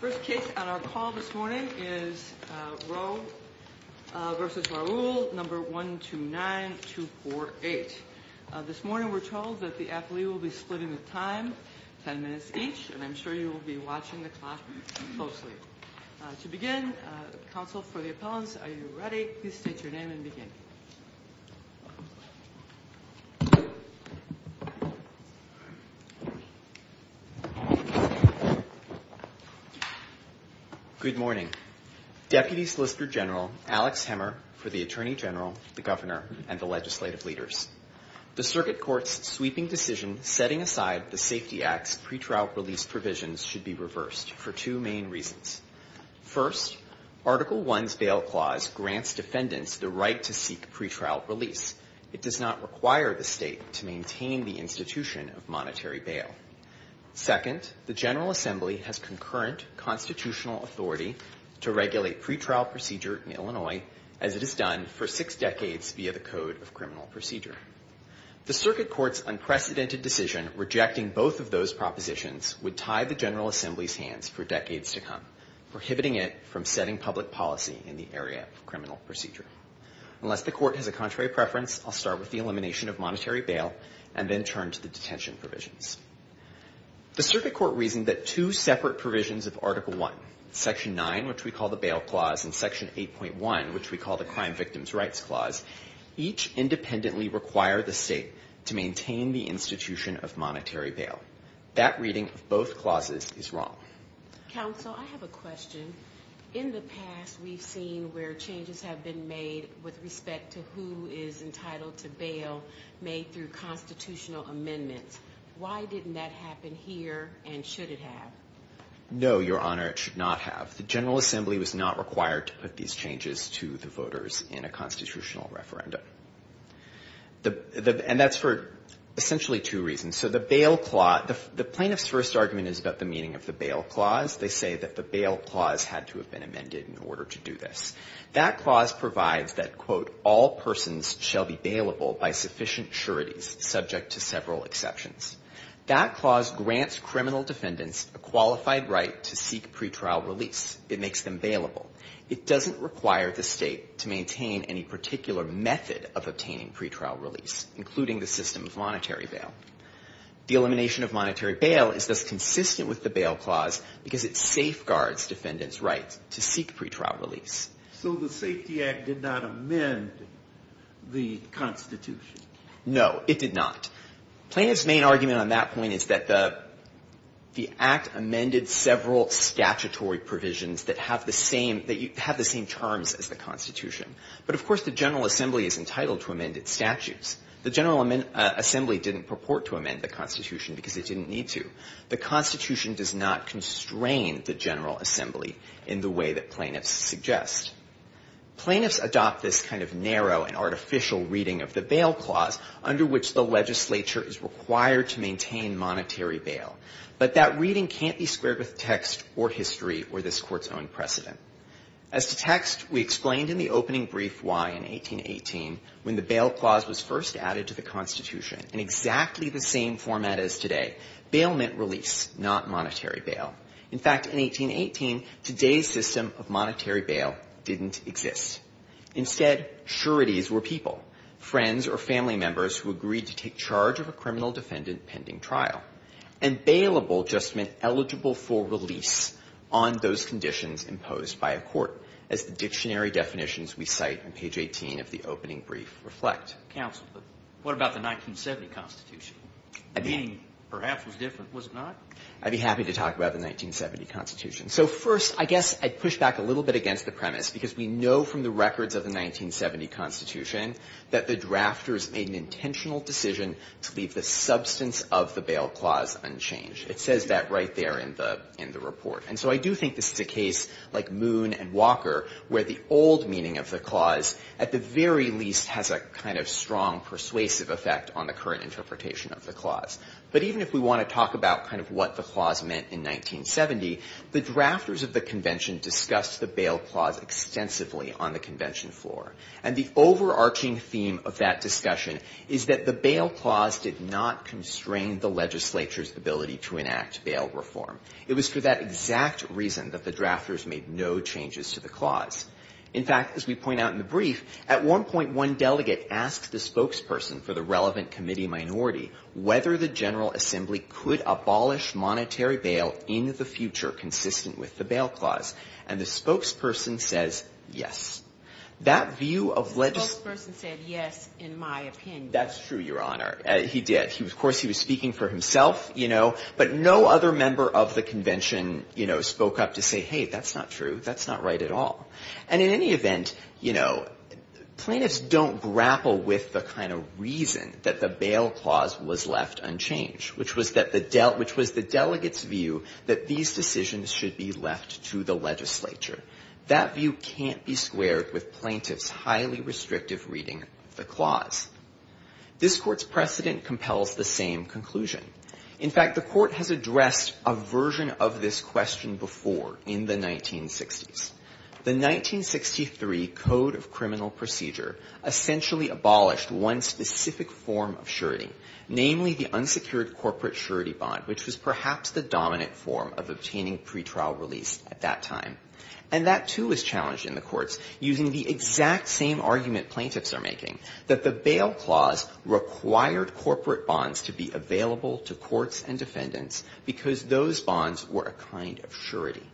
First case on our call this morning is Rowe v. Raoul, No. 129248. This morning we're told that the athlete will be splitting the time, 10 minutes each, and I'm sure you will be watching the clock closely. To begin, counsel for the appellants, are you ready? Please state your name and begin. Good morning. Deputy Solicitor General Alex Hemmer for the Attorney General, the Governor, and the legislative leaders. The Circuit Court's sweeping decision setting aside the Safety Act's pretrial release provisions should be reversed for two main reasons. First, Article I's bail clause grants defendants the right to seek pretrial release. It does not require the state to maintain the institution of monetary bail. Second, the General Assembly has concurrent constitutional authority to regulate pretrial procedure in Illinois, as it has done for six decades via the Code of Criminal Procedure. The Circuit Court's unprecedented decision rejecting both of those propositions would tie the General Assembly's hands for decades to come, prohibiting it from setting public policy in the area of criminal procedure. Unless the Court has a contrary preference, I'll start with the elimination of monetary bail and then turn to the detention provisions. The Circuit Court reasoned that two separate provisions of Article I, Section 9, which we call the Bail Clause, and Section 8.1, which we call the Crime Victims' Rights Clause, each independently require the state to maintain the institution of monetary bail. That reading of both clauses is wrong. Counsel, I have a question. In the past, we've seen where changes have been made with respect to who is entitled to bail made through constitutional amendments. Why didn't that happen here, and should it have? No, Your Honor, it should not have. The General Assembly was not required to put these changes to the voters in a constitutional referendum. And that's for essentially two reasons. The plaintiff's first argument is about the meaning of the Bail Clause. They say that the Bail Clause had to have been amended in order to do this. That clause provides that, quote, all persons shall be bailable by sufficient sureties, subject to several exceptions. That clause grants criminal defendants a qualified right to seek pretrial release. It makes them bailable. It doesn't require the state to maintain any particular method of obtaining pretrial release, including the system of monetary bail. The elimination of monetary bail is thus consistent with the Bail Clause because it safeguards defendants' rights to seek pretrial release. So the Safety Act did not amend the Constitution? No, it did not. Plaintiff's main argument on that point is that the Act amended several statutory provisions that have the same, that have the same terms as the Constitution. But, of course, the General Assembly is entitled to amend its statutes. The General Assembly didn't purport to amend the Constitution because it didn't need to. The Constitution does not constrain the General Assembly in the way that plaintiffs suggest. Plaintiffs adopt this kind of narrow and artificial reading of the Bail Clause, under which the legislature is required to maintain monetary bail. But that reading can't be squared with text or history or this Court's own precedent. As to text, we explained in the opening brief why, in 1818, when the Bail Clause was first added to the Constitution, in exactly the same format as today, bail meant release, not monetary bail. In fact, in 1818, today's system of monetary bail didn't exist. Instead, sureties were people, friends or family members, who agreed to take charge of a criminal defendant pending trial. And bailable just meant eligible for release on those conditions imposed by a court, as the dictionary definitions we cite on page 18 of the opening brief reflect. Counsel, but what about the 1970 Constitution? The meaning, perhaps, was different, was it not? I'd be happy to talk about the 1970 Constitution. So first, I guess I'd push back a little bit against the premise, because we know from the records of the 1970 Constitution that the drafters made an intentional decision to leave the substance of the Bail Clause unchanged. It says that right there in the report. And so I do think this is a case like Moon and Walker, where the old meaning of the clause at the very least has a kind of strong persuasive effect on the current interpretation of the clause. But even if we want to talk about kind of what the clause meant in 1970, the drafters of the Convention discussed the Bail Clause extensively on the Convention floor. And the overarching theme of that discussion is that the Bail Clause did not constrain the legislature's ability to enact bail reform. It was for that exact reason that the drafters made no changes to the clause. In fact, as we point out in the brief, at one point, one delegate asked the spokesperson for the relevant committee minority whether the General Assembly could abolish monetary bail in the future consistent with the Bail Clause. And the spokesperson says, yes. That view of legislation... The spokesperson said, yes, in my opinion. That's true, Your Honor. He did. Of course, he was speaking for himself, you know. But no other member of the Convention, you know, spoke up to say, hey, that's not true. That's not right at all. And in any event, you know, plaintiffs don't grapple with the kind of reason that the Bail Clause was left unchanged, which was that the del... which was the delegate's view that these decisions should be left to the legislature. That view can't be squared with plaintiffs' highly restrictive reading of the clause. This Court's precedent compels the same conclusion. In fact, the Court has addressed a version of this question before in the 1960s. The 1963 Code of Criminal Procedure essentially abolished one specific form of surety, namely the unsecured corporate surety bond, which was perhaps the dominant form of obtaining pretrial release at that time. And that, too, was challenged in the courts using the exact same argument plaintiffs are making, that the Bail Clause required corporate bonds to be available to courts and defendants because those bonds were a kind of surety.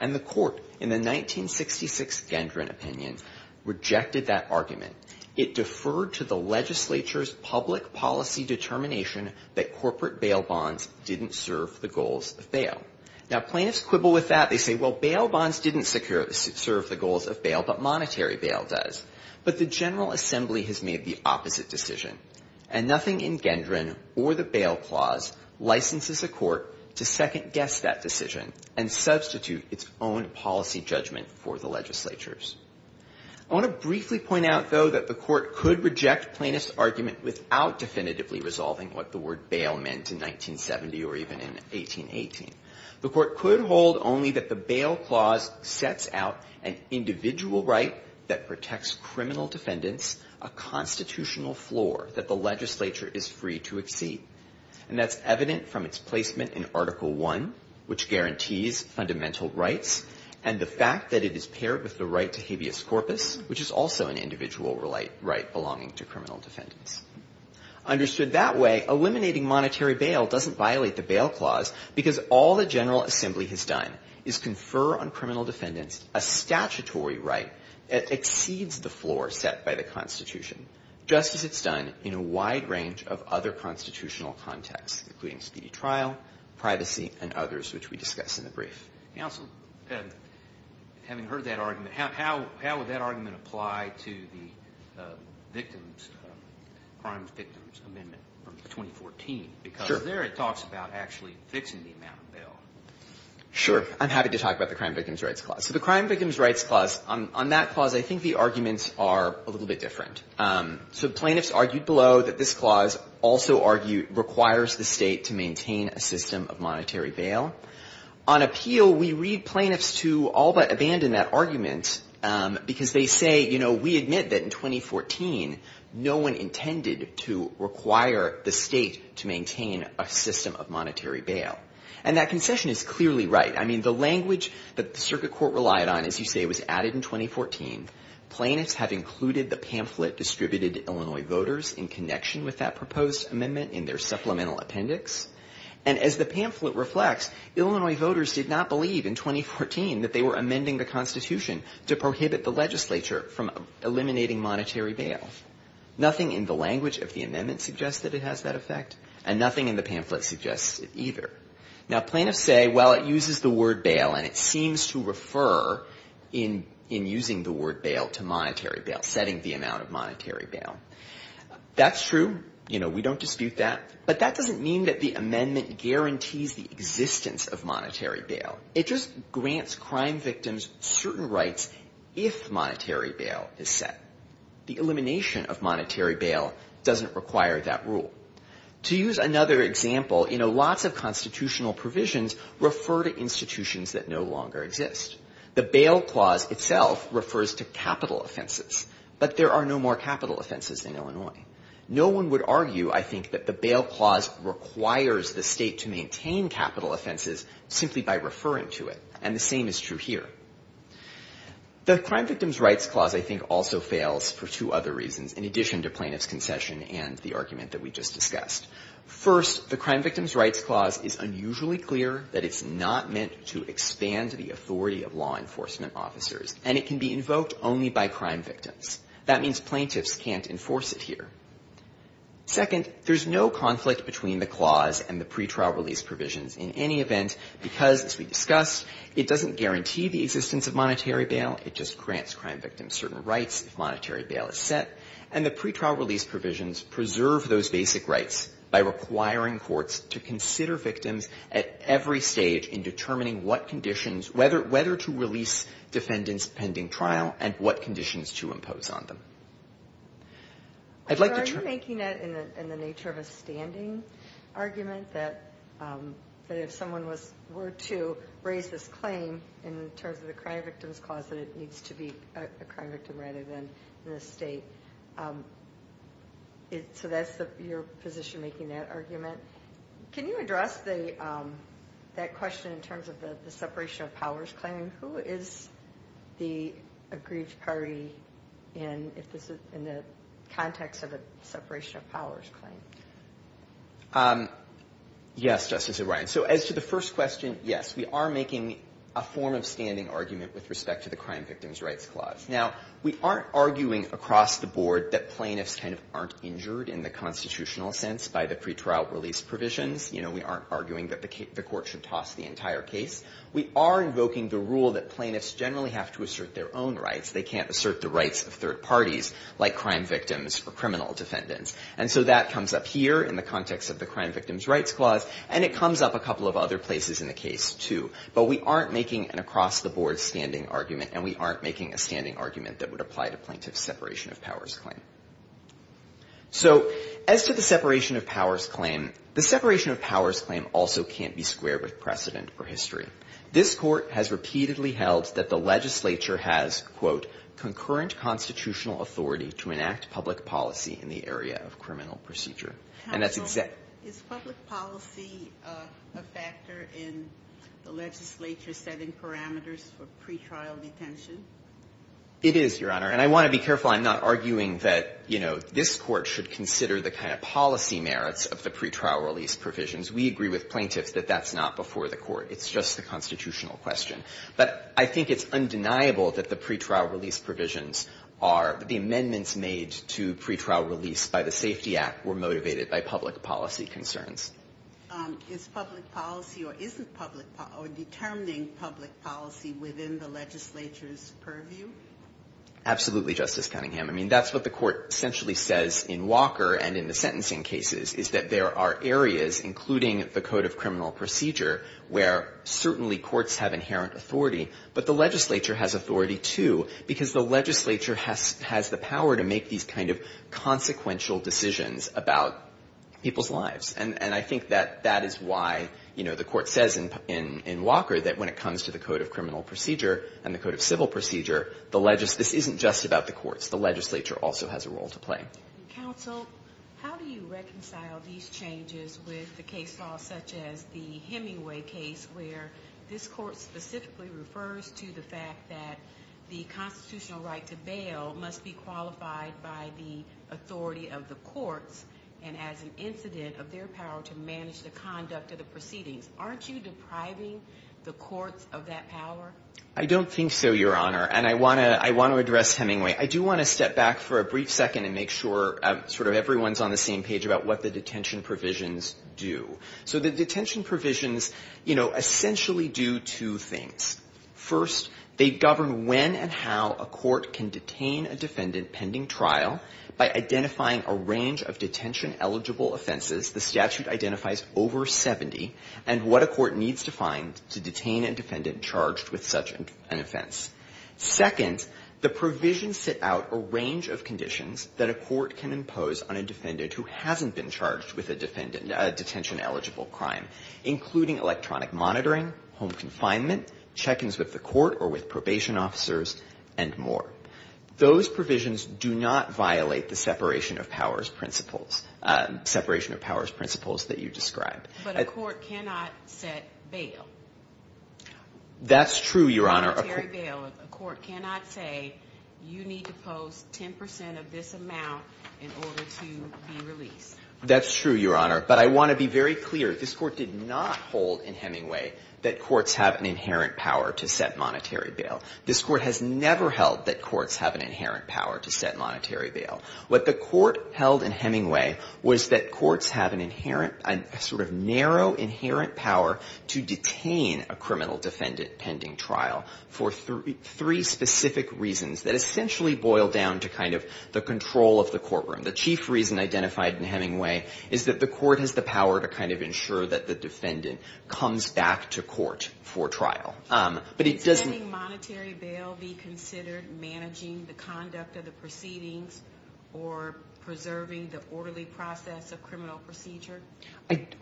And the Court, in the 1966 Gendron opinion, rejected that argument. It deferred to the legislature's public policy determination that corporate bail bonds didn't serve the goals of bail. Now, plaintiffs quibble with that. They say, well, bail bonds didn't secure... serve the goals of bail, but monetary bail does. But the General Assembly has made the opposite decision. And nothing in Gendron or the Bail Clause licenses a court to second-guess that decision and substitute its own policy judgment for the legislature's. I want to briefly point out, though, that the Court could reject plaintiffs' argument without definitively resolving what the word bail meant in 1970 or even in 1818. The Court could hold only that the Bail Clause sets out an individual right that protects criminal defendants a constitutional floor that the legislature is free to exceed. And that's evident from its placement in Article I, which guarantees fundamental rights, and the fact that it is paired with the right to habeas corpus, which is also an individual right belonging to criminal defendants. Understood that way, eliminating monetary bail doesn't violate the Bail Clause because all the General Assembly has done is confer on criminal defendants a statutory right that exceeds the floor set by the Constitution, just as it's done in a wide range of other constitutional contexts, including speedy trial, privacy, and others, which we discuss in the brief. Counsel, having heard that argument, how would that argument apply to the Victims Crimes Victims Amendment from 2014? Because there it talks about actually fixing the amount of bail. Sure. I'm happy to talk about the Crime Victims Rights Clause. So the Crime Victims Rights Clause, on that clause, I think the arguments are a little bit different. So plaintiffs argued below that this clause also requires the state to maintain a system of monetary bail. On appeal, we read plaintiffs to all but abandon that argument because they say, you know, we admit that in 2014, no one intended to require the state to maintain a system of monetary bail. And that concession is clearly right. I mean, the language that the Circuit Court relied on, as you say, was added in 2014. Plaintiffs have included the pamphlet distributed to Illinois voters in connection with that proposed amendment in their supplemental appendix. And as the pamphlet reflects, Illinois voters did not believe in 2014 that they were amending the Constitution to prohibit the legislature from eliminating monetary bail. Nothing in the language of the amendment suggests that it has that effect, and nothing in the pamphlet suggests it either. Now, plaintiffs say, well, it uses the word bail, and it seems to refer in using the word bail to monetary bail, setting the amount of monetary bail. That's true. You know, we don't dispute that. But that doesn't mean that the amendment guarantees the existence of monetary bail. It just grants crime victims certain rights if monetary bail is set. The elimination of monetary bail doesn't require that rule. To use another example, you know, lots of constitutional provisions refer to institutions that no longer exist. The bail clause itself refers to capital offenses. But there are no more capital offenses in Illinois. No one would argue, I think, that the bail clause requires the State to maintain capital offenses simply by referring to it. And the same is true here. The Crime Victims' Rights Clause, I think, also fails for two other reasons, in addition to plaintiff's concession and the argument that we just discussed. First, the Crime Victims' Rights Clause is unusually clear that it's not meant to expand to the authority of law enforcement officers, and it can be invoked only by crime victims. That means plaintiffs can't enforce it here. Second, there's no conflict between the clause and the pretrial release provisions in any event because, as we discussed, it doesn't guarantee the existence of monetary bail. It just grants crime victims certain rights if monetary bail is set. And the pretrial release provisions preserve those basic rights by requiring courts to consider victims at every stage in determining what conditions, whether to release defendants pending trial and what conditions to impose on them. I'd like to turn... Are you making that in the nature of a standing argument that if someone were to raise this claim in terms of the Crime Victims' Clause that it needs to be a crime victim rather than an estate? So that's your position making that argument? Can you address that question in terms of the separation of powers claim? Who is the aggrieved party in the context of a separation of powers claim? Yes, Justice O'Brien. So as to the first question, yes, we are making a form of standing argument with respect to the Crime Victims' Rights Clause. Now, we aren't arguing across the board that plaintiffs kind of aren't injured in the constitutional sense by the pretrial release provisions. You know, we aren't arguing that the court should toss the entire case. We are invoking the rule that plaintiffs generally have to assert their own rights. They can't assert the rights of third parties like crime victims or criminal defendants. And so that comes up here in the context of the Crime Victims' Rights Clause, and it comes up a couple of other places in the case, too. But we aren't making an across-the-board standing argument, and we aren't making a standing argument that would apply to plaintiffs' separation of powers claim. So as to the separation of powers claim, the separation of powers claim also can't be squared with precedent or history. This court has repeatedly held that the legislature has, quote, to enact public policy in the area of criminal procedure. And that's exactly the case. Ginsburg. Is public policy a factor in the legislature setting parameters for pretrial detention? It is, Your Honor. And I want to be careful I'm not arguing that, you know, this Court should consider the kind of policy merits of the pretrial release provisions. We agree with plaintiffs that that's not before the Court. It's just the constitutional question. But I think it's undeniable that the pretrial release provisions are the amendments made to pretrial release by the Safety Act were motivated by public policy concerns. Is public policy or isn't public policy or determining public policy within the legislature's purview? Absolutely, Justice Cunningham. I mean, that's what the Court essentially says in Walker and in the sentencing cases, is that there are areas, including the Code of Criminal Procedure, where certainly courts have inherent authority, but the legislature has authority too, because the legislature has the power to make these kind of consequential decisions about people's lives. And I think that that is why, you know, the Court says in Walker that when it comes to the Code of Criminal Procedure and the Code of Civil Procedure, the legislature isn't just about the courts. The legislature also has a role to play. Counsel, how do you reconcile these changes with the case law such as the Hemingway case where this Court specifically refers to the fact that the constitutional right to bail must be qualified by the authority of the courts and as an incident of their power to manage the conduct of the proceedings? Aren't you depriving the courts of that power? I don't think so, Your Honor. And I want to address Hemingway. I do want to step back for a brief second and make sure sort of everyone's on the same page about what the detention provisions do. So the detention provisions, you know, essentially do two things. First, they govern when and how a court can detain a defendant pending trial by identifying a range of detention-eligible offenses. The statute identifies over 70 and what a court needs to find to detain a defendant charged with such an offense. Second, the provisions set out a range of conditions that a court can impose on a defendant who hasn't been charged with a detention-eligible crime, including electronic monitoring, home confinement, check-ins with the court or with probation officers, and more. Those provisions do not violate the separation of powers principles that you described. But a court cannot set bail. That's true, Your Honor. A court cannot say you need to post 10 percent of this amount in order to be released. That's true, Your Honor. But I want to be very clear. This Court did not hold in Hemingway that courts have an inherent power to set monetary bail. This Court has never held that courts have an inherent power to set monetary bail. What the Court held in Hemingway was that courts have an inherent, a sort of narrow inherent power to detain a criminal defendant pending trial for three specific reasons that essentially boil down to kind of the control of the courtroom. The chief reason identified in Hemingway is that the court has the power to kind of ensure that the defendant comes back to court for trial. But it doesn't... Can sending monetary bail be considered managing the conduct of the proceedings or preserving the orderly process of criminal procedure?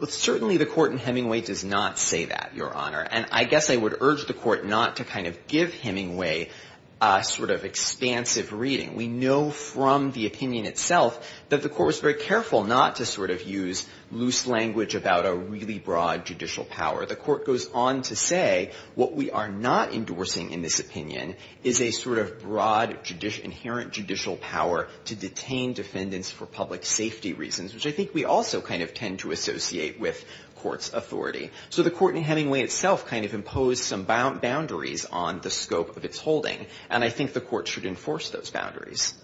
Certainly the Court in Hemingway does not say that, Your Honor. And I guess I would urge the Court not to kind of give Hemingway a sort of expansive reading. We know from the opinion itself that the Court was very careful not to sort of use loose language about a really broad judicial power. The Court goes on to say what we are not endorsing in this opinion is a sort of broad inherent judicial power to detain defendants for public safety reasons, which I think we also kind of tend to associate with court's authority. So the Court in Hemingway itself kind of imposed some boundaries on the scope of its holding. And I think the Court should enforce those boundaries.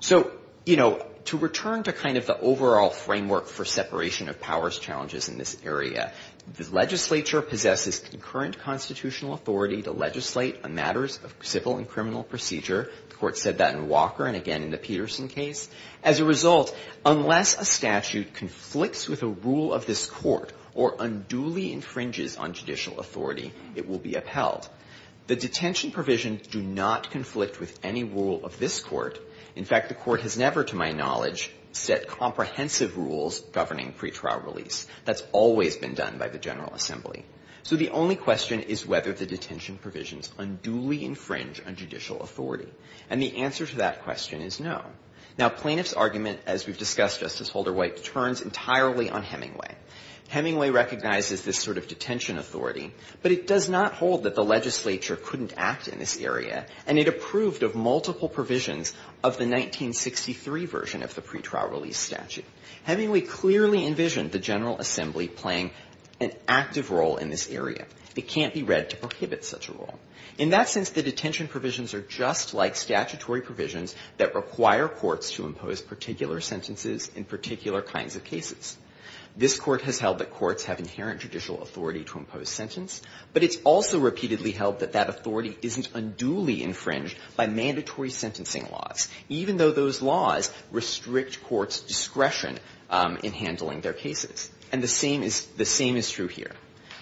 So, you know, to return to kind of the overall framework for separation of powers challenges in this area, the legislature possesses concurrent constitutional authority to legislate on matters of civil and criminal procedure. The Court said that in Walker and again in the Peterson case. As a result, unless a statute conflicts with a rule of this Court or unduly infringes on judicial authority, it will be upheld. The detention provisions do not conflict with any rule of this Court. In fact, the Court has never, to my knowledge, set comprehensive rules governing pretrial release. That's always been done by the General Assembly. So the only question is whether the detention provisions unduly infringe on judicial authority. And the answer to that question is no. Now, plaintiff's argument, as we've discussed, Justice Holder White, turns entirely on Hemingway. Hemingway recognizes this sort of detention authority, but it does not hold that the legislature couldn't act in this area, and it approved of multiple provisions of the 1963 version of the pretrial release statute. Hemingway clearly envisioned the General Assembly playing an active role in this area. It can't be read to prohibit such a role. In that sense, the detention provisions are just like statutory provisions that require courts to impose particular sentences in particular kinds of cases. This Court has held that courts have inherent judicial authority to impose sentence, but it's also repeatedly held that that authority isn't unduly infringed by mandatory sentencing laws, even though those laws restrict courts' discretion in handling their cases. And the same is the same is true here.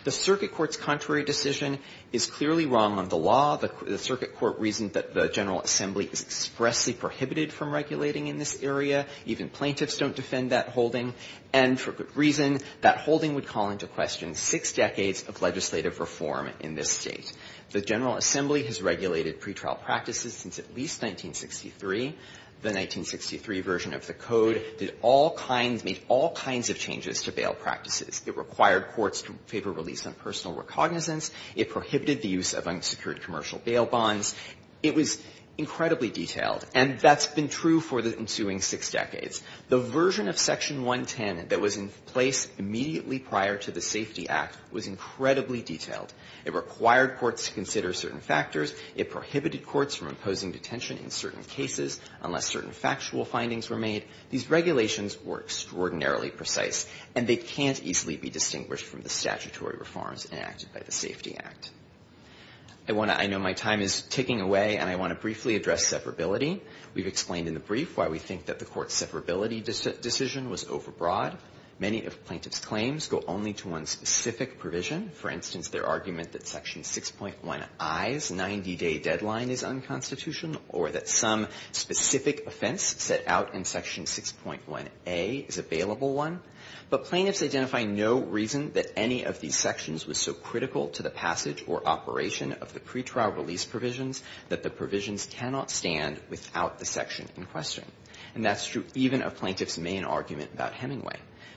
The circuit court's contrary decision is clearly wrong on the law. The circuit court reasoned that the General Assembly is expressly prohibited from regulating in this area. Even plaintiffs don't defend that holding. And for good reason. That holding would call into question six decades of legislative reform in this State. The General Assembly has regulated pretrial practices since at least 1963. The 1963 version of the Code did all kinds, made all kinds of changes to bail practices. It required courts to favor release on personal recognizance. It prohibited the use of unsecured commercial bail bonds. It was incredibly detailed. And that's been true for the ensuing six decades. The version of Section 110 that was in place immediately prior to the Safety Act was incredibly detailed. It required courts to consider certain factors. It prohibited courts from imposing detention in certain cases unless certain factual findings were made. These regulations were extraordinarily precise, and they can't easily be distinguished from the statutory reforms enacted by the Safety Act. I know my time is ticking away, and I want to briefly address separability. We've explained in the brief why we think that the court's separability decision was overbroad. Many of plaintiffs' claims go only to one specific provision. For instance, their argument that Section 6.1i's 90-day deadline is unconstitutional or that some specific offense set out in Section 6.1a is a bailable one. But plaintiffs identify no reason that any of these sections was so critical to the passage or operation of the pretrial release provisions that the provisions cannot stand without the section in question. And that's true even of plaintiffs' main argument about Hemingway.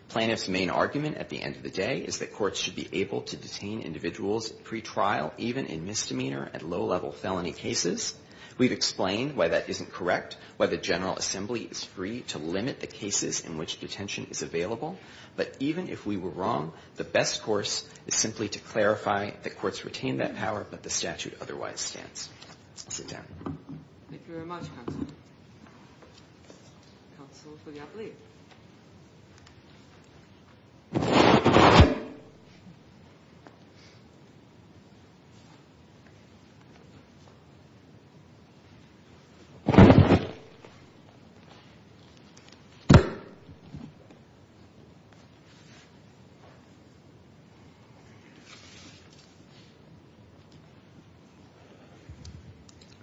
Plaintiffs' main argument at the end of the day is that courts should be able to detain individuals at pretrial even in misdemeanor and low-level felony cases. We've explained why that isn't correct, why the General Assembly is free to limit the cases in which detention is available. But even if we were wrong, the best course is simply to clarify that courts retain that power, but the statute otherwise stands. I'll sit down. Thank you very much, Counsel. Counsel for the appellee. Good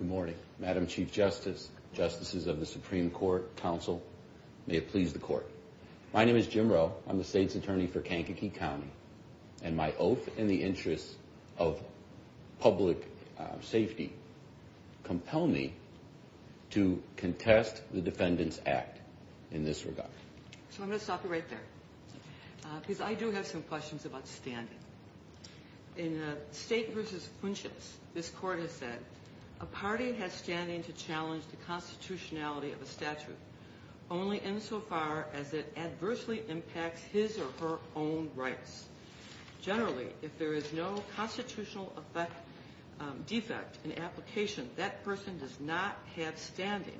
morning, Madam Chief Justice, Justices of the Supreme Court, Counsel. May it please the Court. My name is Jim Rowe. I'm the State's Attorney for Kankakee County. And my oath in the interest of public safety compels me to contest the Defendant's Act in this regard. So I'm going to stop you right there. Because I do have some questions about standing. In State v. Funches, this Court has said, of a statute only insofar as it adversely impacts his or her own rights. Generally, if there is no constitutional defect in application, that person does not have standing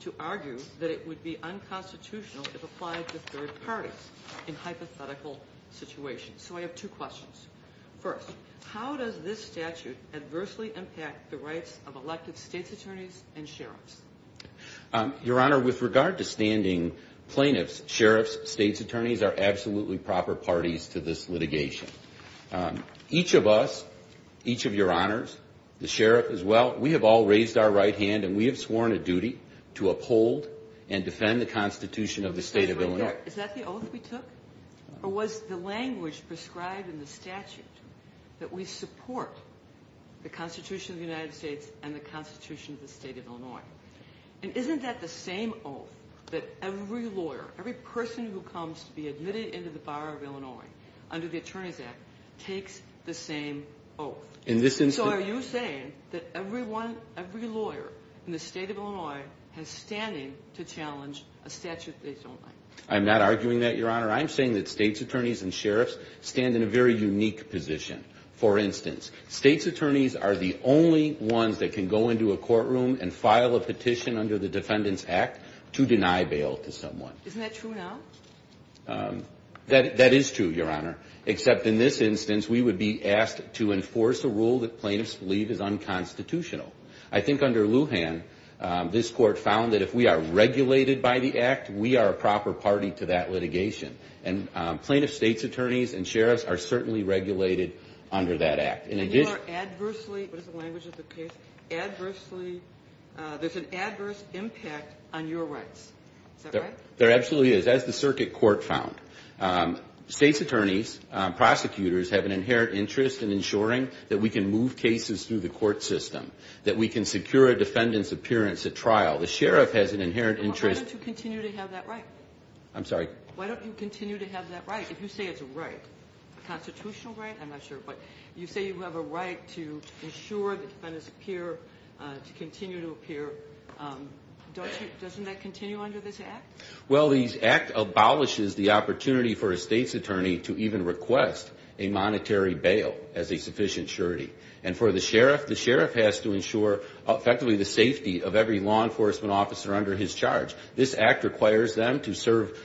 to argue that it would be unconstitutional if applied to third parties in hypothetical situations. So I have two questions. First, how does this statute adversely impact the rights of elected State's Attorneys and sheriffs? Your Honor, with regard to standing plaintiffs, sheriffs, State's Attorneys are absolutely proper parties to this litigation. Each of us, each of Your Honors, the sheriff as well, we have all raised our right hand and we have sworn a duty to uphold and defend the Constitution of the State of Illinois. Is that the oath we took? Or was the language prescribed in the statute that we support the Constitution of the United States of Illinois? And isn't that the same oath that every lawyer, every person who comes to be admitted into the Bar of Illinois under the Attorneys Act, takes the same oath? So are you saying that every lawyer in the State of Illinois has standing to challenge a statute they don't like? I'm not arguing that, Your Honor. I'm saying that State's Attorneys and sheriffs stand in a very unique position. For instance, State's Attorneys are the only ones that can go into a courtroom and file a petition under the Defendant's Act to deny bail to someone. Isn't that true now? That is true, Your Honor. Except in this instance, we would be asked to enforce a rule that plaintiffs believe is unconstitutional. I think under Lujan, this Court found that if we are regulated by the Act, we are a proper party to that litigation. And plaintiff State's Attorneys and sheriffs are certainly regulated under that Act. And you are adversely, what is the language of the case, adversely, there's an adverse impact on your rights. Is that right? There absolutely is. That's the circuit court found. State's Attorneys, prosecutors, have an inherent interest in ensuring that we can move cases through the court system, that we can secure a defendant's appearance at trial. The sheriff has an inherent interest. Why don't you continue to have that right? I'm sorry? Why don't you continue to have that right, if you say it's a right? A constitutional right? I'm not sure. But you say you have a right to ensure that defendants appear, to continue to appear. Doesn't that continue under this Act? Well, the Act abolishes the opportunity for a State's Attorney to even request a monetary bail as a sufficient surety. And for the sheriff, the sheriff has to ensure effectively the safety of every law enforcement officer under his charge. This Act requires them to serve,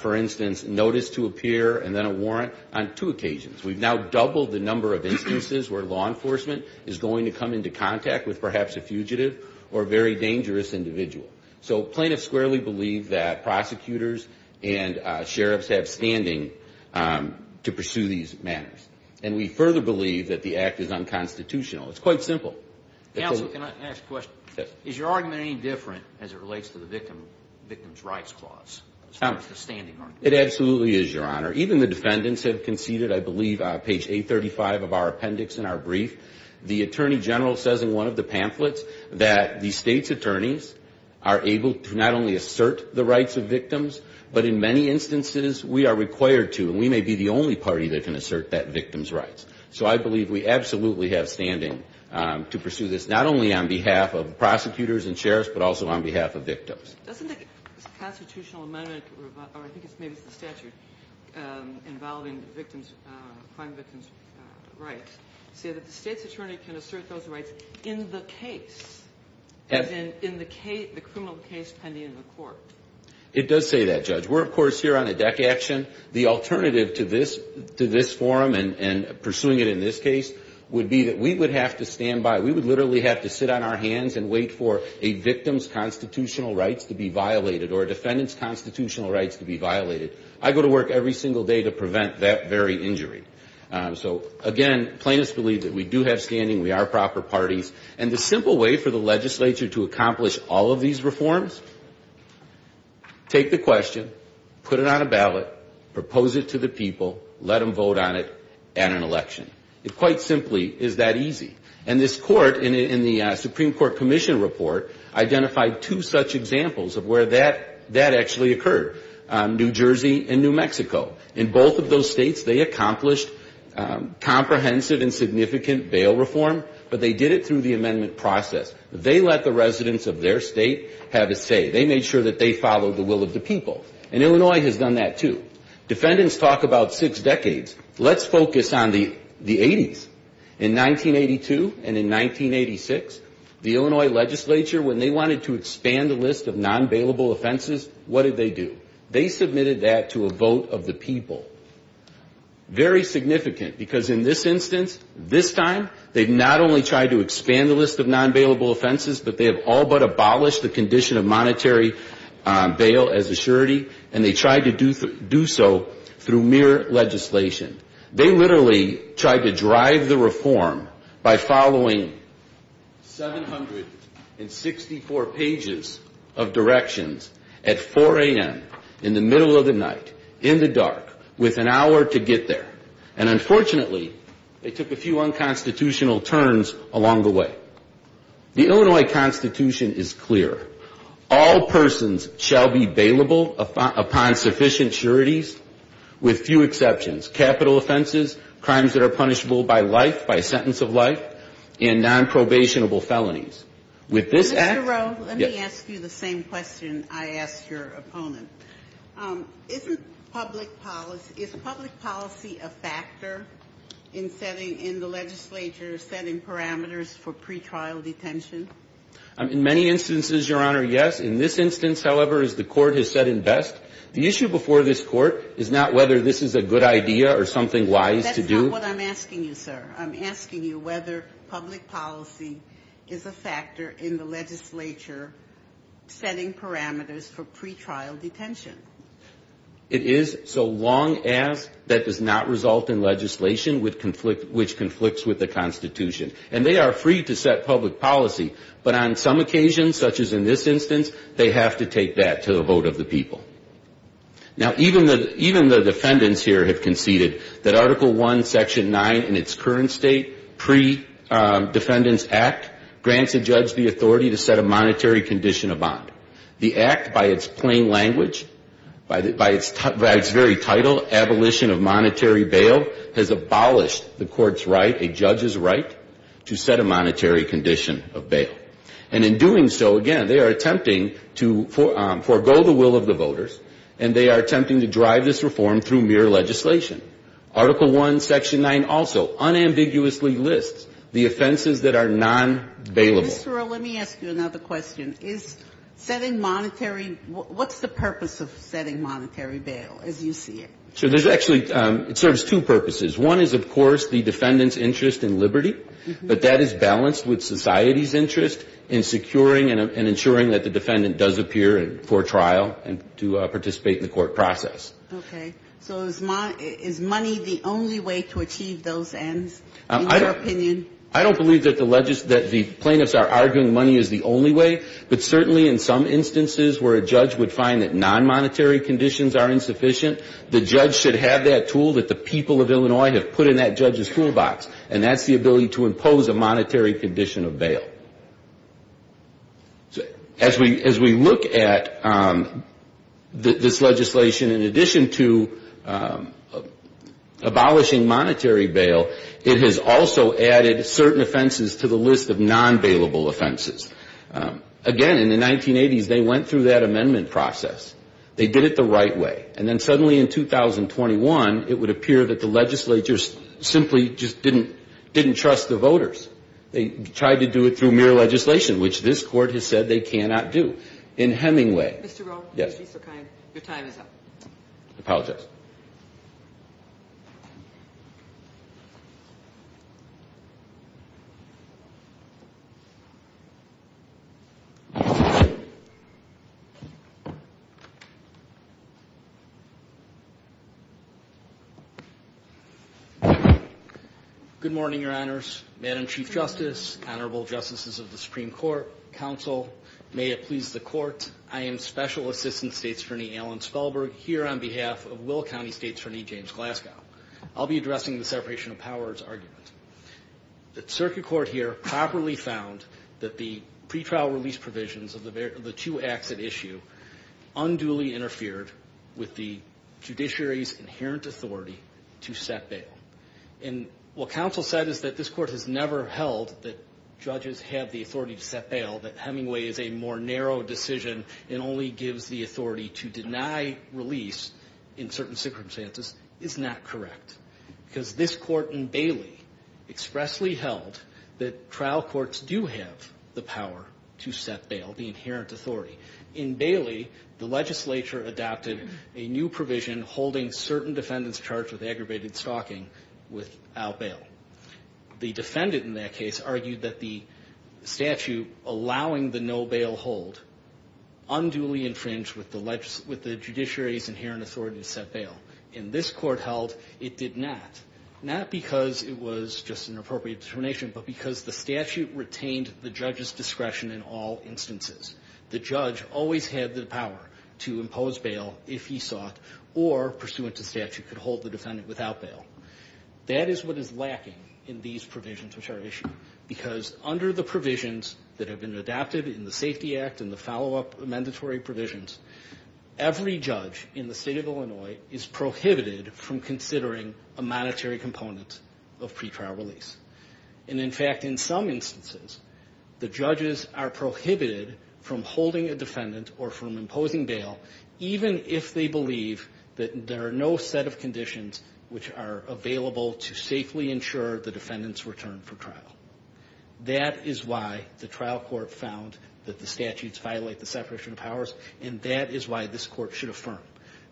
for instance, notice to appear and then a warrant on two occasions. We've now doubled the number of instances where law enforcement is going to come into contact with perhaps a fugitive or a very dangerous individual. So plaintiffs squarely believe that prosecutors and sheriffs have standing to pursue these matters. And we further believe that the Act is unconstitutional. It's quite simple. Counsel, can I ask a question? Yes. Is your argument any different as it relates to the Victim's Rights Clause? It sounds like a standing argument. It absolutely is, Your Honor. Even the defendants have conceded, I believe, page 835 of our appendix in our brief. The Attorney General says in one of the pamphlets that the State's Attorneys are able to not only assert the rights of victims, but in many instances we are required to, and we may be the only party that can assert that victim's rights. So I believe we absolutely have standing to pursue this, not only on behalf of prosecutors and sheriffs, but also on behalf of victims. Doesn't the constitutional amendment, or I think maybe it's the statute, involving crime victims' rights say that the State's Attorney can assert those rights in the case, as in the criminal case pending in the court? It does say that, Judge. We're, of course, here on a deck action. The alternative to this forum and pursuing it in this case would be that we would have to stand by, we would literally have to sit on our hands and wait for a victim's constitutional rights to be violated or a defendant's constitutional rights to be violated. I go to work every single day to prevent that very injury. So, again, plaintiffs believe that we do have standing, we are proper parties. And the simple way for the legislature to accomplish all of these reforms? Take the question, put it on a ballot, propose it to the people, let them vote on it at an election. It quite simply is that easy. And this court, in the Supreme Court Commission report, identified two such examples of where that actually occurred, New Jersey and New Mexico. In both of those states, they accomplished comprehensive and significant bail reform, but they did it through the amendment process. They let the residents of their state have a say. They made sure that they followed the will of the people. And Illinois has done that, too. Defendants talk about six decades. Let's focus on the 80s. In 1982 and in 1986, the Illinois legislature, when they wanted to expand the list of non-bailable offenses, what did they do? They submitted that to a vote of the people. Very significant, because in this instance, this time, they've not only tried to expand the list of non-bailable offenses, but they have all but abolished the condition of monetary bail as a surety, and they tried to do so through mere legislation. They literally tried to drive the reform by following 764 pages of directions at 4 a.m. in the middle of the night, in the dark, with an hour to get there. And unfortunately, they took a few unconstitutional turns along the way. The Illinois Constitution is clear. All persons shall be bailable upon sufficient sureties, with few exceptions. Capital offenses, crimes that are punishable by life, by sentence of life, and nonprobationable felonies. With this act ---- Mr. Rowe, let me ask you the same question I asked your opponent. Isn't public policy ---- is public policy a factor in setting ---- in the legislature setting parameters for pretrial detention? In many instances, Your Honor, yes. In this instance, however, as the Court has said it best, the issue before this Court is not whether this is a good idea or something wise to do. That's not what I'm asking you, sir. I'm asking you whether public policy is a factor in the legislature setting parameters for pretrial detention. It is, so long as that does not result in legislation which conflicts with the Constitution. And they are free to set public policy, but on some occasions, such as in this instance, they have to take that to the vote of the people. Now, even the defendants here have conceded that Article I, Section 9 in its current state, Pre-Defendants Act, grants a judge the authority to set a monetary condition of bond. The Act, by its plain language, by its very title, Abolition of Monetary Bail, has abolished the Court's right, a judge's right, to set a monetary condition of bail. And in doing so, again, they are attempting to forego the will of the voters, and they are attempting to drive this reform through mere legislation. Article I, Section 9 also unambiguously lists the offenses that are non-bailable. Ginsburg, let me ask you another question. Is setting monetary, what's the purpose of setting monetary bail, as you see it? So there's actually, it serves two purposes. One is, of course, the defendant's interest in liberty, but that is balanced with society's interest in securing and ensuring that the defendant does appear for trial and to participate in the court process. Okay. So is money the only way to achieve those ends, in your opinion? I don't believe that the plaintiffs are arguing money is the only way, but certainly in some instances where a judge would find that non-monetary conditions are insufficient, the judge should have that tool that the people of Illinois have put in that judge's toolbox, and that's the ability to impose a monetary condition of bail. As we look at this legislation, in addition to abolishing monetary bail, it has also added certain offenses to the list of non-bailable offenses. Again, in the 1980s, they went through that amendment process. They did it the right way. And then suddenly in 2021, it would appear that the legislature simply just didn't trust the voters. They tried to do it through mere legislation, which this Court has said they cannot do. In Hemingway ---- Your time is up. I apologize. Good morning, Your Honors. Madam Chief Justice, Honorable Justices of the Supreme Court, Counsel, may it please the Court. I am Special Assistant State's Attorney Alan Spelberg here on behalf of Willow County State's Attorney James Glasgow. I'll be addressing the separation of powers argument. The circuit court here properly found that the pretrial release provisions of the two acts at issue unduly interfered with the judiciary's inherent authority to set bail. And what counsel said is that this Court has never held that judges have the only gives the authority to deny release in certain circumstances is not correct. Because this Court in Bailey expressly held that trial courts do have the power to set bail, the inherent authority. In Bailey, the legislature adopted a new provision holding certain defendants charged with aggravated stalking without bail. The defendant in that case argued that the statute allowing the no bail hold unduly infringed with the judiciary's inherent authority to set bail. In this court held, it did not. Not because it was just an appropriate determination, but because the statute retained the judge's discretion in all instances. The judge always had the power to impose bail if he sought or pursuant to statute could hold the defendant without bail. That is what is lacking in these provisions which are issued. Because under the provisions that have been adopted in the Safety Act and the follow-up mandatory provisions, every judge in the state of Illinois is prohibited from considering a monetary component of pretrial release. And in fact, in some instances, the judges are prohibited from holding a defendant or from imposing bail even if they believe that there are no set of That is why the trial court found that the statutes violate the separation of powers, and that is why this court should affirm.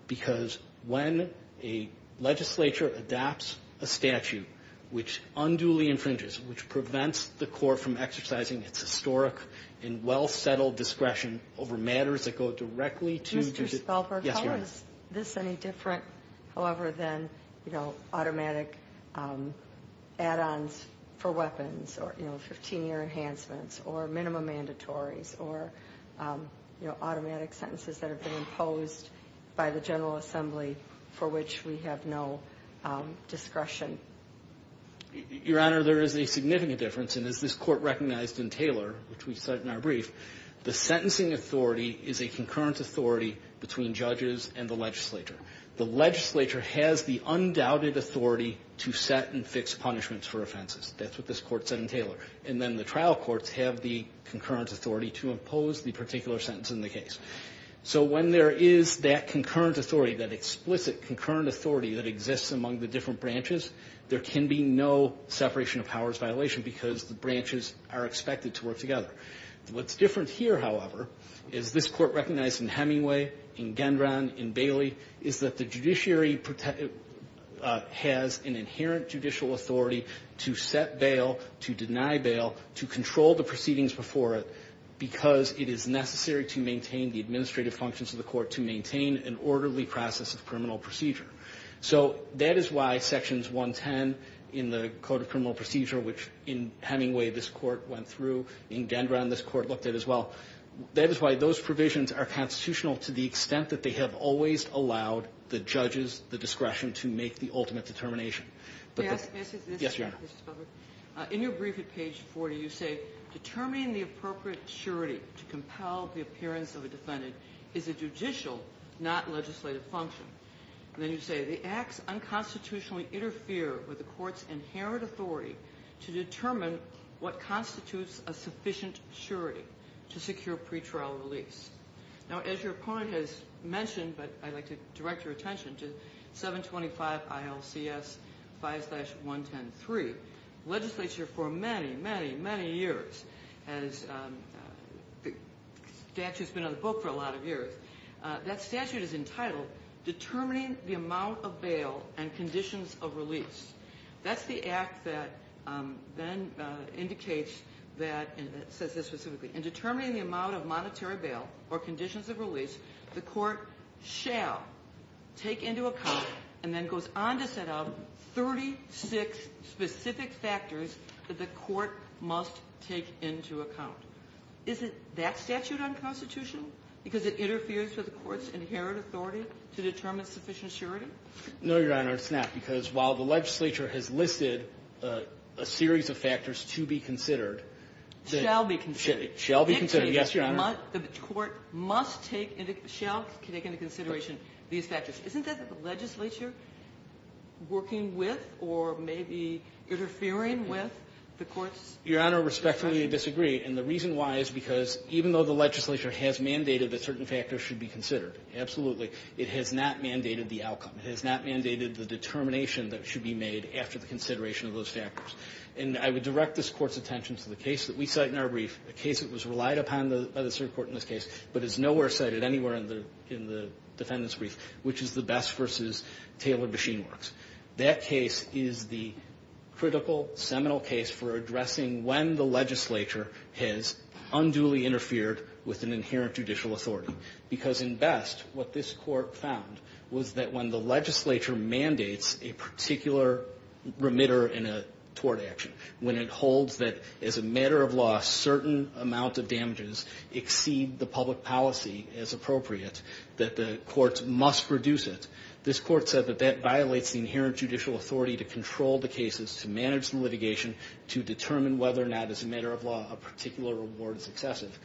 Because when a legislature adopts a statute which unduly infringes, which prevents the court from exercising its historic and well-settled discretion over matters that go directly to the judge. Yes, Your Honor. Mr. Spalberg, how is this any different, however, than, you know, automatic add-ons for weapons or, you know, 15-year enhancements or minimum mandatories or, you know, automatic sentences that have been imposed by the General Assembly for which we have no discretion? Your Honor, there is a significant difference, and as this court recognized in Taylor, which we cite in our brief, the sentencing authority is a concurrent authority between judges and the legislature. The legislature has the undoubted authority to set and fix punishments for offenses. That's what this court said in Taylor. And then the trial courts have the concurrent authority to impose the particular sentence in the case. So when there is that concurrent authority, that explicit concurrent authority that exists among the different branches, there can be no separation of powers violation because the branches are expected to work together. What's different here, however, is this court recognized in Hemingway, in Taylor, is that the judiciary has an inherent judicial authority to set bail, to deny bail, to control the proceedings before it because it is necessary to maintain the administrative functions of the court to maintain an orderly process of criminal procedure. So that is why Sections 110 in the Code of Criminal Procedure, which in Hemingway this court went through, in Dendron this court looked at as well, that is why those provisions are constitutional to the extent that they have always allowed the judges the discretion to make the ultimate determination. Yes, Your Honor. In your brief at page 40, you say, Determining the appropriate surety to compel the appearance of a defendant is a judicial, not legislative, function. And then you say, The acts unconstitutionally interfere with the court's inherent authority to determine what constitutes a sufficient surety to secure pretrial release. Now, as your opponent has mentioned, but I'd like to direct your attention to 725 ILCS 5-113, legislature for many, many, many years, as the statute's been in the book for a lot of years, that statute is entitled, Determining the Amount of Bail and Conditions of Release. That's the act that then indicates that, says this specifically, In determining the amount of monetary bail or conditions of release, the court shall take into account, and then goes on to set out 36 specific factors that the court must take into account. Is it that statute unconstitutional? Because it interferes with the court's inherent authority to determine sufficient surety? No, Your Honor, it's not. Because while the legislature has listed a series of factors to be considered, Shall be considered. Shall be considered. Yes, Your Honor. The court must take into, shall take into consideration these factors. Isn't that the legislature working with or maybe interfering with the court's? Your Honor, respectfully, I disagree. And the reason why is because even though the legislature has mandated that certain factors should be considered, absolutely. It has not mandated the outcome. It has not mandated the determination that should be made after the consideration of those factors. And I would direct this Court's attention to the case that we cite in our brief, a case that was relied upon by the Supreme Court in this case, but is nowhere cited anywhere in the defendant's brief, which is the Best v. Taylor Machine Works. That case is the critical, seminal case for addressing when the legislature has unduly interfered with an inherent judicial authority. Because in Best, what this Court found was that when the legislature mandates a particular remitter in a tort action, when it holds that as a matter of law a certain amount of damages exceed the public policy as appropriate, that the courts must reduce it. This Court said that that violates the inherent judicial authority to control the cases, to manage the litigation, to determine whether or not as a matter of law a particular reward is excessive,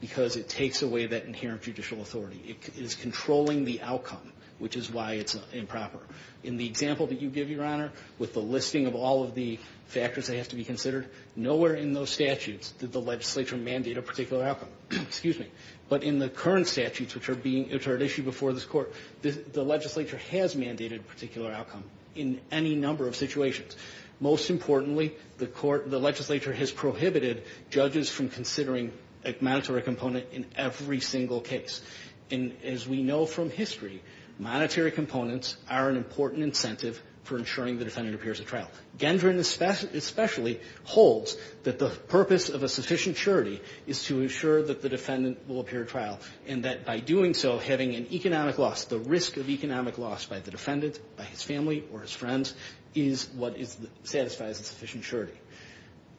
because it takes away that inherent judicial authority. It is controlling the outcome, which is why it's improper. In the example that you give, Your Honor, with the listing of all of the factors that have to be considered, nowhere in those statutes did the legislature mandate a particular outcome. Excuse me. But in the current statutes which are being issued before this Court, the legislature has mandated a particular outcome in any number of situations. Most importantly, the court, the legislature has prohibited judges from considering a monetary component in every single case. And as we know from history, monetary components are an important incentive for ensuring the defendant appears at trial. Gendron especially holds that the purpose of a sufficient surety is to ensure that the defendant will appear at trial, and that by doing so having an economic loss, the risk of economic loss by the defendant, by his family or his friends, is what satisfies a sufficient surety.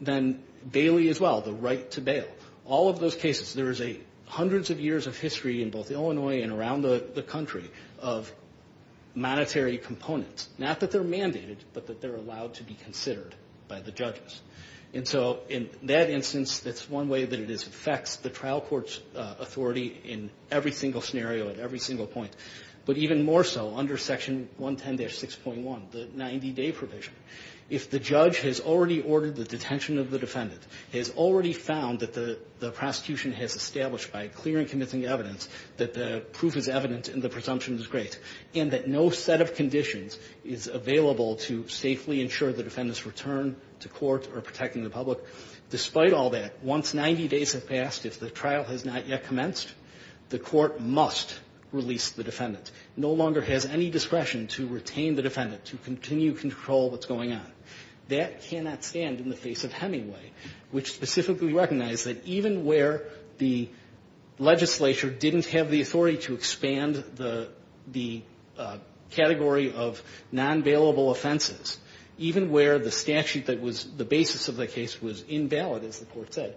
Then Bailey as well, the right to bail. All of those cases, there is hundreds of years of history in both Illinois and around the country of monetary components. Not that they're mandated, but that they're allowed to be considered by the judges. And so in that instance, that's one way that it affects the trial court's authority in every single scenario at every single point. But even more so under Section 110-6.1, the 90-day provision. If the judge has already ordered the detention of the defendant, has already found that the prosecution has established by clear and convincing evidence that the proof is evident and the presumption is great, and that no set of conditions is available to safely ensure the defendant's return to court or protecting the public, despite all that, once 90 days have passed, if the trial has not yet commenced, the court must release the defendant. No longer has any discretion to retain the defendant, to continue to control what's going on. That cannot stand in the face of Hemingway, which specifically recognized that even where the legislature didn't have the authority to expand the category of non-bailable offenses, even where the statute that was the basis of the case was invalid, as the Court said,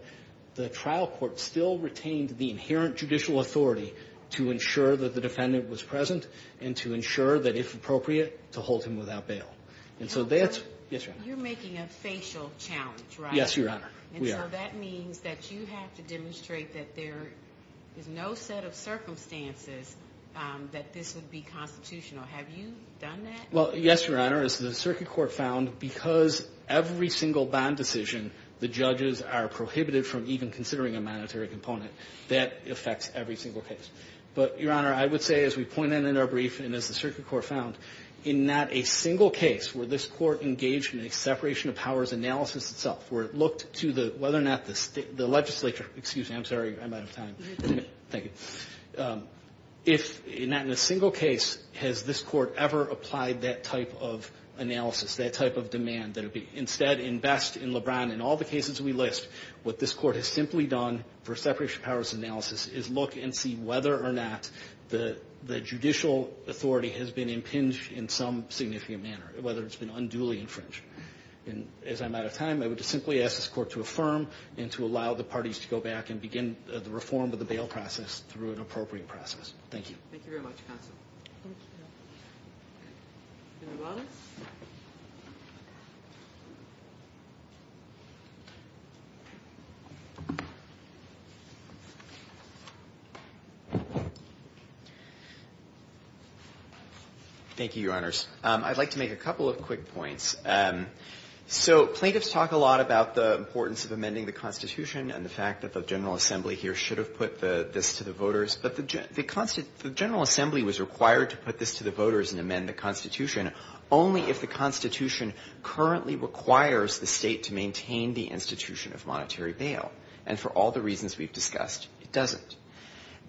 the trial court still retained the inherent judicial authority to ensure that the defendant was present and to ensure that, if appropriate, to hold him without bail. And so that's... You're making a facial challenge, right? Yes, Your Honor. And so that means that you have to demonstrate that there is no set of circumstances that this would be constitutional. Have you done that? Well, yes, Your Honor. As the Circuit Court found, because every single bond decision, the judges are prohibited from even considering a monetary component. That affects every single case. But, Your Honor, I would say, as we pointed in our brief, and as the Circuit Court found, in not a single case where this Court engaged in a separation of powers analysis itself, where it looked to whether or not the legislature... Excuse me. I'm sorry. I'm out of time. Thank you. If not in a single case has this Court ever applied that type of analysis, that type of demand, that it be instead invest in LeBron. In all the cases we list, what this Court has simply done for separation of powers analysis is look and see whether or not the judicial authority has been impinged in some significant manner, whether it's been unduly infringed. And as I'm out of time, I would just simply ask this Court to affirm and to allow the parties to go back and begin the reform of the bail process through an appropriate process. Thank you. Thank you very much, Counsel. Thank you. Thank you, Your Honors. I'd like to make a couple of quick points. So plaintiffs talk a lot about the importance of amending the Constitution and the fact that the General Assembly here should have put this to the voters, but the General Assembly was required to put this to the voters and amend the Constitution only if the Constitution currently requires the State to maintain the institution of monetary bail. And for all the reasons we've discussed, it doesn't.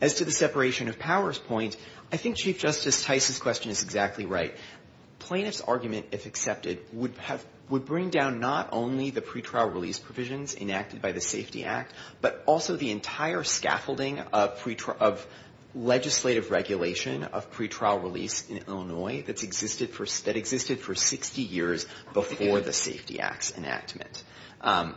As to the separation of powers point, I think Chief Justice Tice's question is exactly right. Plaintiffs' argument, if accepted, would bring down not only the pretrial release but also the separation of legislative regulation of pretrial release in Illinois that existed for 60 years before the Safety Acts enactment.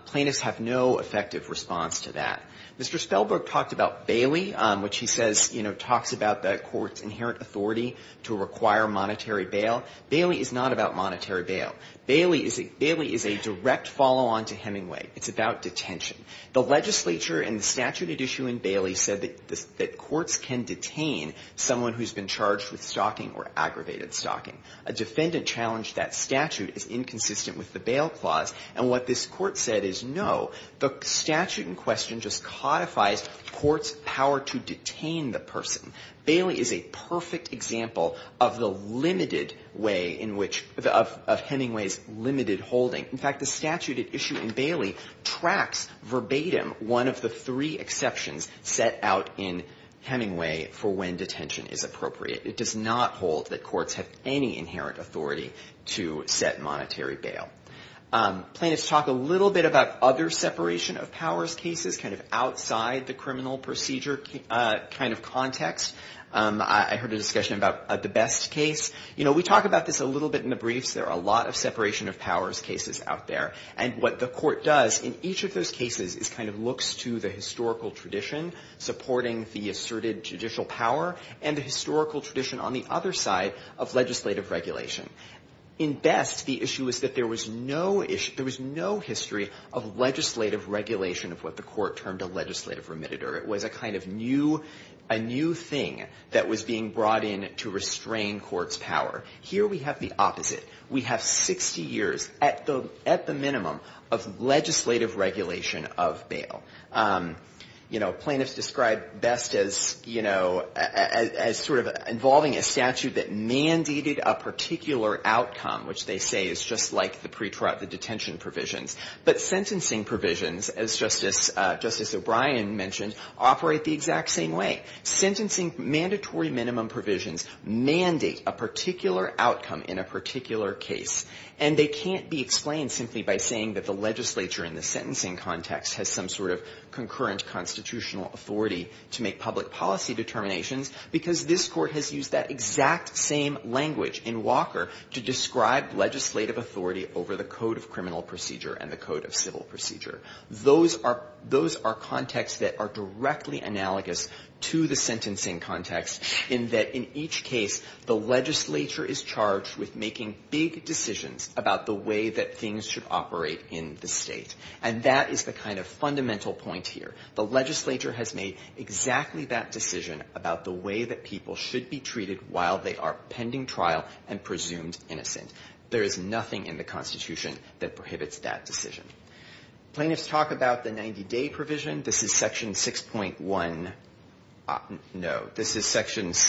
Plaintiffs have no effective response to that. Mr. Spellberg talked about Bailey, which he says, you know, talks about the Court's inherent authority to require monetary bail. Bailey is not about monetary bail. Bailey is a direct follow-on to Hemingway. It's about detention. The legislature in the statute at issue in Bailey said that courts can detain someone who's been charged with stalking or aggravated stalking. A defendant challenged that statute as inconsistent with the bail clause, and what this court said is no. The statute in question just codifies court's power to detain the person. Bailey is a perfect example of the limited way in which of Hemingway's limited holding. In fact, the statute at issue in Bailey tracks verbatim one of the three exceptions set out in Hemingway for when detention is appropriate. It does not hold that courts have any inherent authority to set monetary bail. Plaintiffs talk a little bit about other separation of powers cases, kind of outside the criminal procedure kind of context. I heard a discussion about the Best case. You know, we talk about this a little bit in the briefs. There are a lot of separation of powers cases out there, and what the court does in each of those cases is kind of looks to the historical tradition supporting the asserted judicial power and the historical tradition on the other side of legislative regulation. In Best, the issue is that there was no history of legislative regulation of what the court termed a legislative remitter. It was a kind of new thing that was being brought in to restrain court's power. Here we have the opposite. We have 60 years at the minimum of legislative regulation of bail. You know, plaintiffs describe Best as, you know, as sort of involving a statute that mandated a particular outcome, which they say is just like the detention provisions. But sentencing provisions, as Justice O'Brien mentioned, operate the exact same way. Sentencing mandatory minimum provisions mandate a particular outcome in a particular case, and they can't be explained simply by saying that the legislature in the sentencing context has some sort of concurrent constitutional authority to make public policy determinations, because this court has used that exact same language in Walker to describe legislative authority over the Code of Criminal Procedure and the Code of Civil Procedure. Those are contexts that are directly analogous to the sentencing context in that in each case, the legislature is charged with making big decisions about the way that things should operate in the state. And that is the kind of fundamental point here. The legislature has made exactly that decision about the way that people should be treated while they are pending trial and presumed innocent. There is nothing in the Constitution that prohibits that decision. Plaintiffs talk about the 90-day provision. This is Section 6.1. No. This is Section —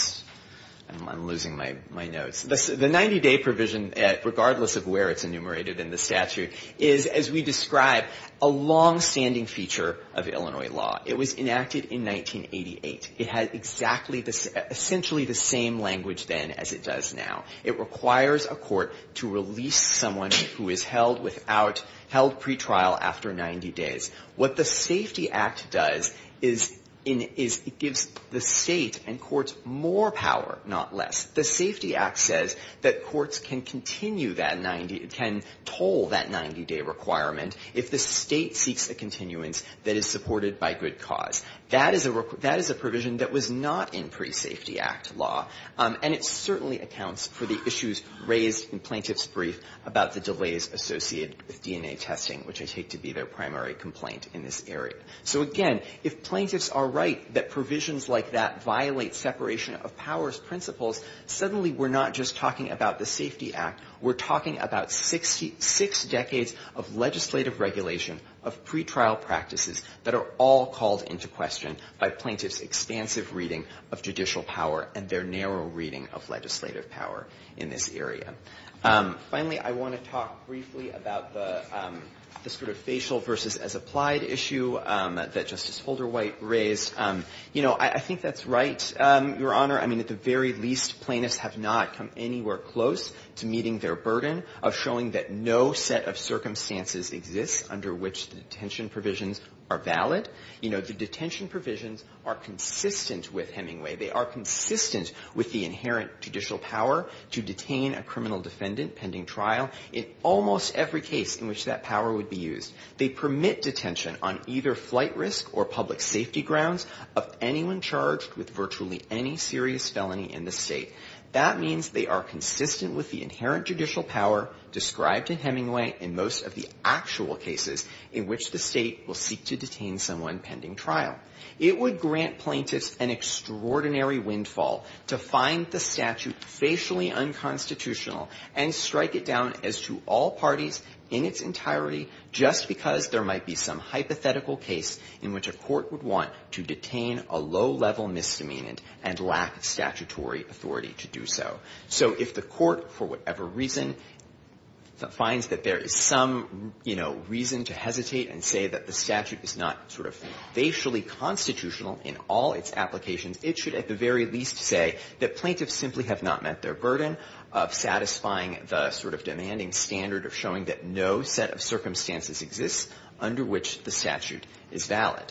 I'm losing my notes. The 90-day provision, regardless of where it's enumerated in the statute, is, as we describe, a longstanding feature of Illinois law. It was enacted in 1988. It had exactly the — essentially the same language then as it does now. It requires a court to release someone who is held without — held pretrial after 90 days. What the Safety Act does is it gives the State and courts more power, not less. The Safety Act says that courts can continue that 90 — can toll that 90-day requirement if the State seeks a continuance that is supported by good cause. That is a provision that was not in pre-Safety Act law, and it certainly accounts for the issues raised in Plaintiff's brief about the delays associated with DNA testing, which I take to be their primary complaint in this area. So again, if plaintiffs are right that provisions like that violate separation of powers principles, suddenly we're not just talking about the Safety Act. We're talking about six decades of legislative regulation, of pretrial practices that are all called into question by plaintiffs' expansive reading of judicial power in this area. Finally, I want to talk briefly about the sort of facial versus as applied issue that Justice Holderwhite raised. You know, I think that's right, Your Honor. I mean, at the very least, plaintiffs have not come anywhere close to meeting their burden of showing that no set of circumstances exists under which the detention provisions are valid. You know, the detention provisions are consistent with Hemingway. They are consistent with the inherent judicial power to detain a criminal defendant pending trial in almost every case in which that power would be used. They permit detention on either flight risk or public safety grounds of anyone charged with virtually any serious felony in the state. That means they are consistent with the inherent judicial power described in Hemingway in most of the actual cases in which the state will seek to detain someone pending trial. It would grant plaintiffs an extraordinary windfall to find the statute facially unconstitutional and strike it down as to all parties in its entirety just because there might be some hypothetical case in which a court would want to detain a low-level misdemeanant and lack statutory authority to do so. So if the court, for whatever reason, finds that there is some, you know, reason to hesitate and say that the statute is not sort of facially constitutional in all its applications, it should at the very least say that plaintiffs simply have not met their burden of satisfying the sort of demanding standard of showing that no set of circumstances exists under which the statute is valid.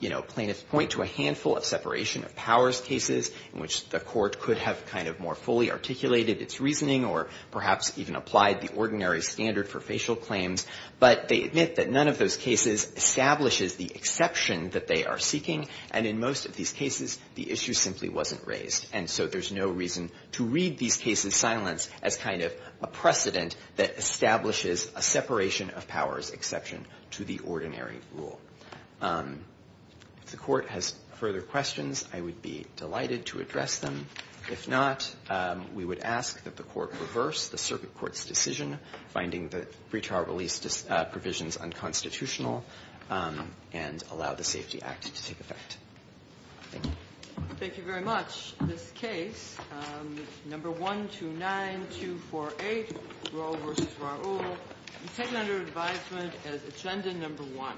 You know, plaintiffs point to a handful of separation of powers cases in which the court could have kind of more fully articulated its reasoning or perhaps even applied the ordinary standard for facial claims, but they admit that none of those cases establishes the exception that they are seeking. And in most of these cases, the issue simply wasn't raised. And so there's no reason to read these cases' silence as kind of a precedent that establishes a separation of powers exception to the ordinary rule. If the Court has further questions, I would be delighted to address them. If not, we would ask that the Court reverse the circuit court's decision, finding the free trial release provisions unconstitutional, and allow the Safety Act to take effect. Thank you. Thank you very much. This case, number 129248, Rowe v. Raul, is taken under advisement as Agenda Number 1.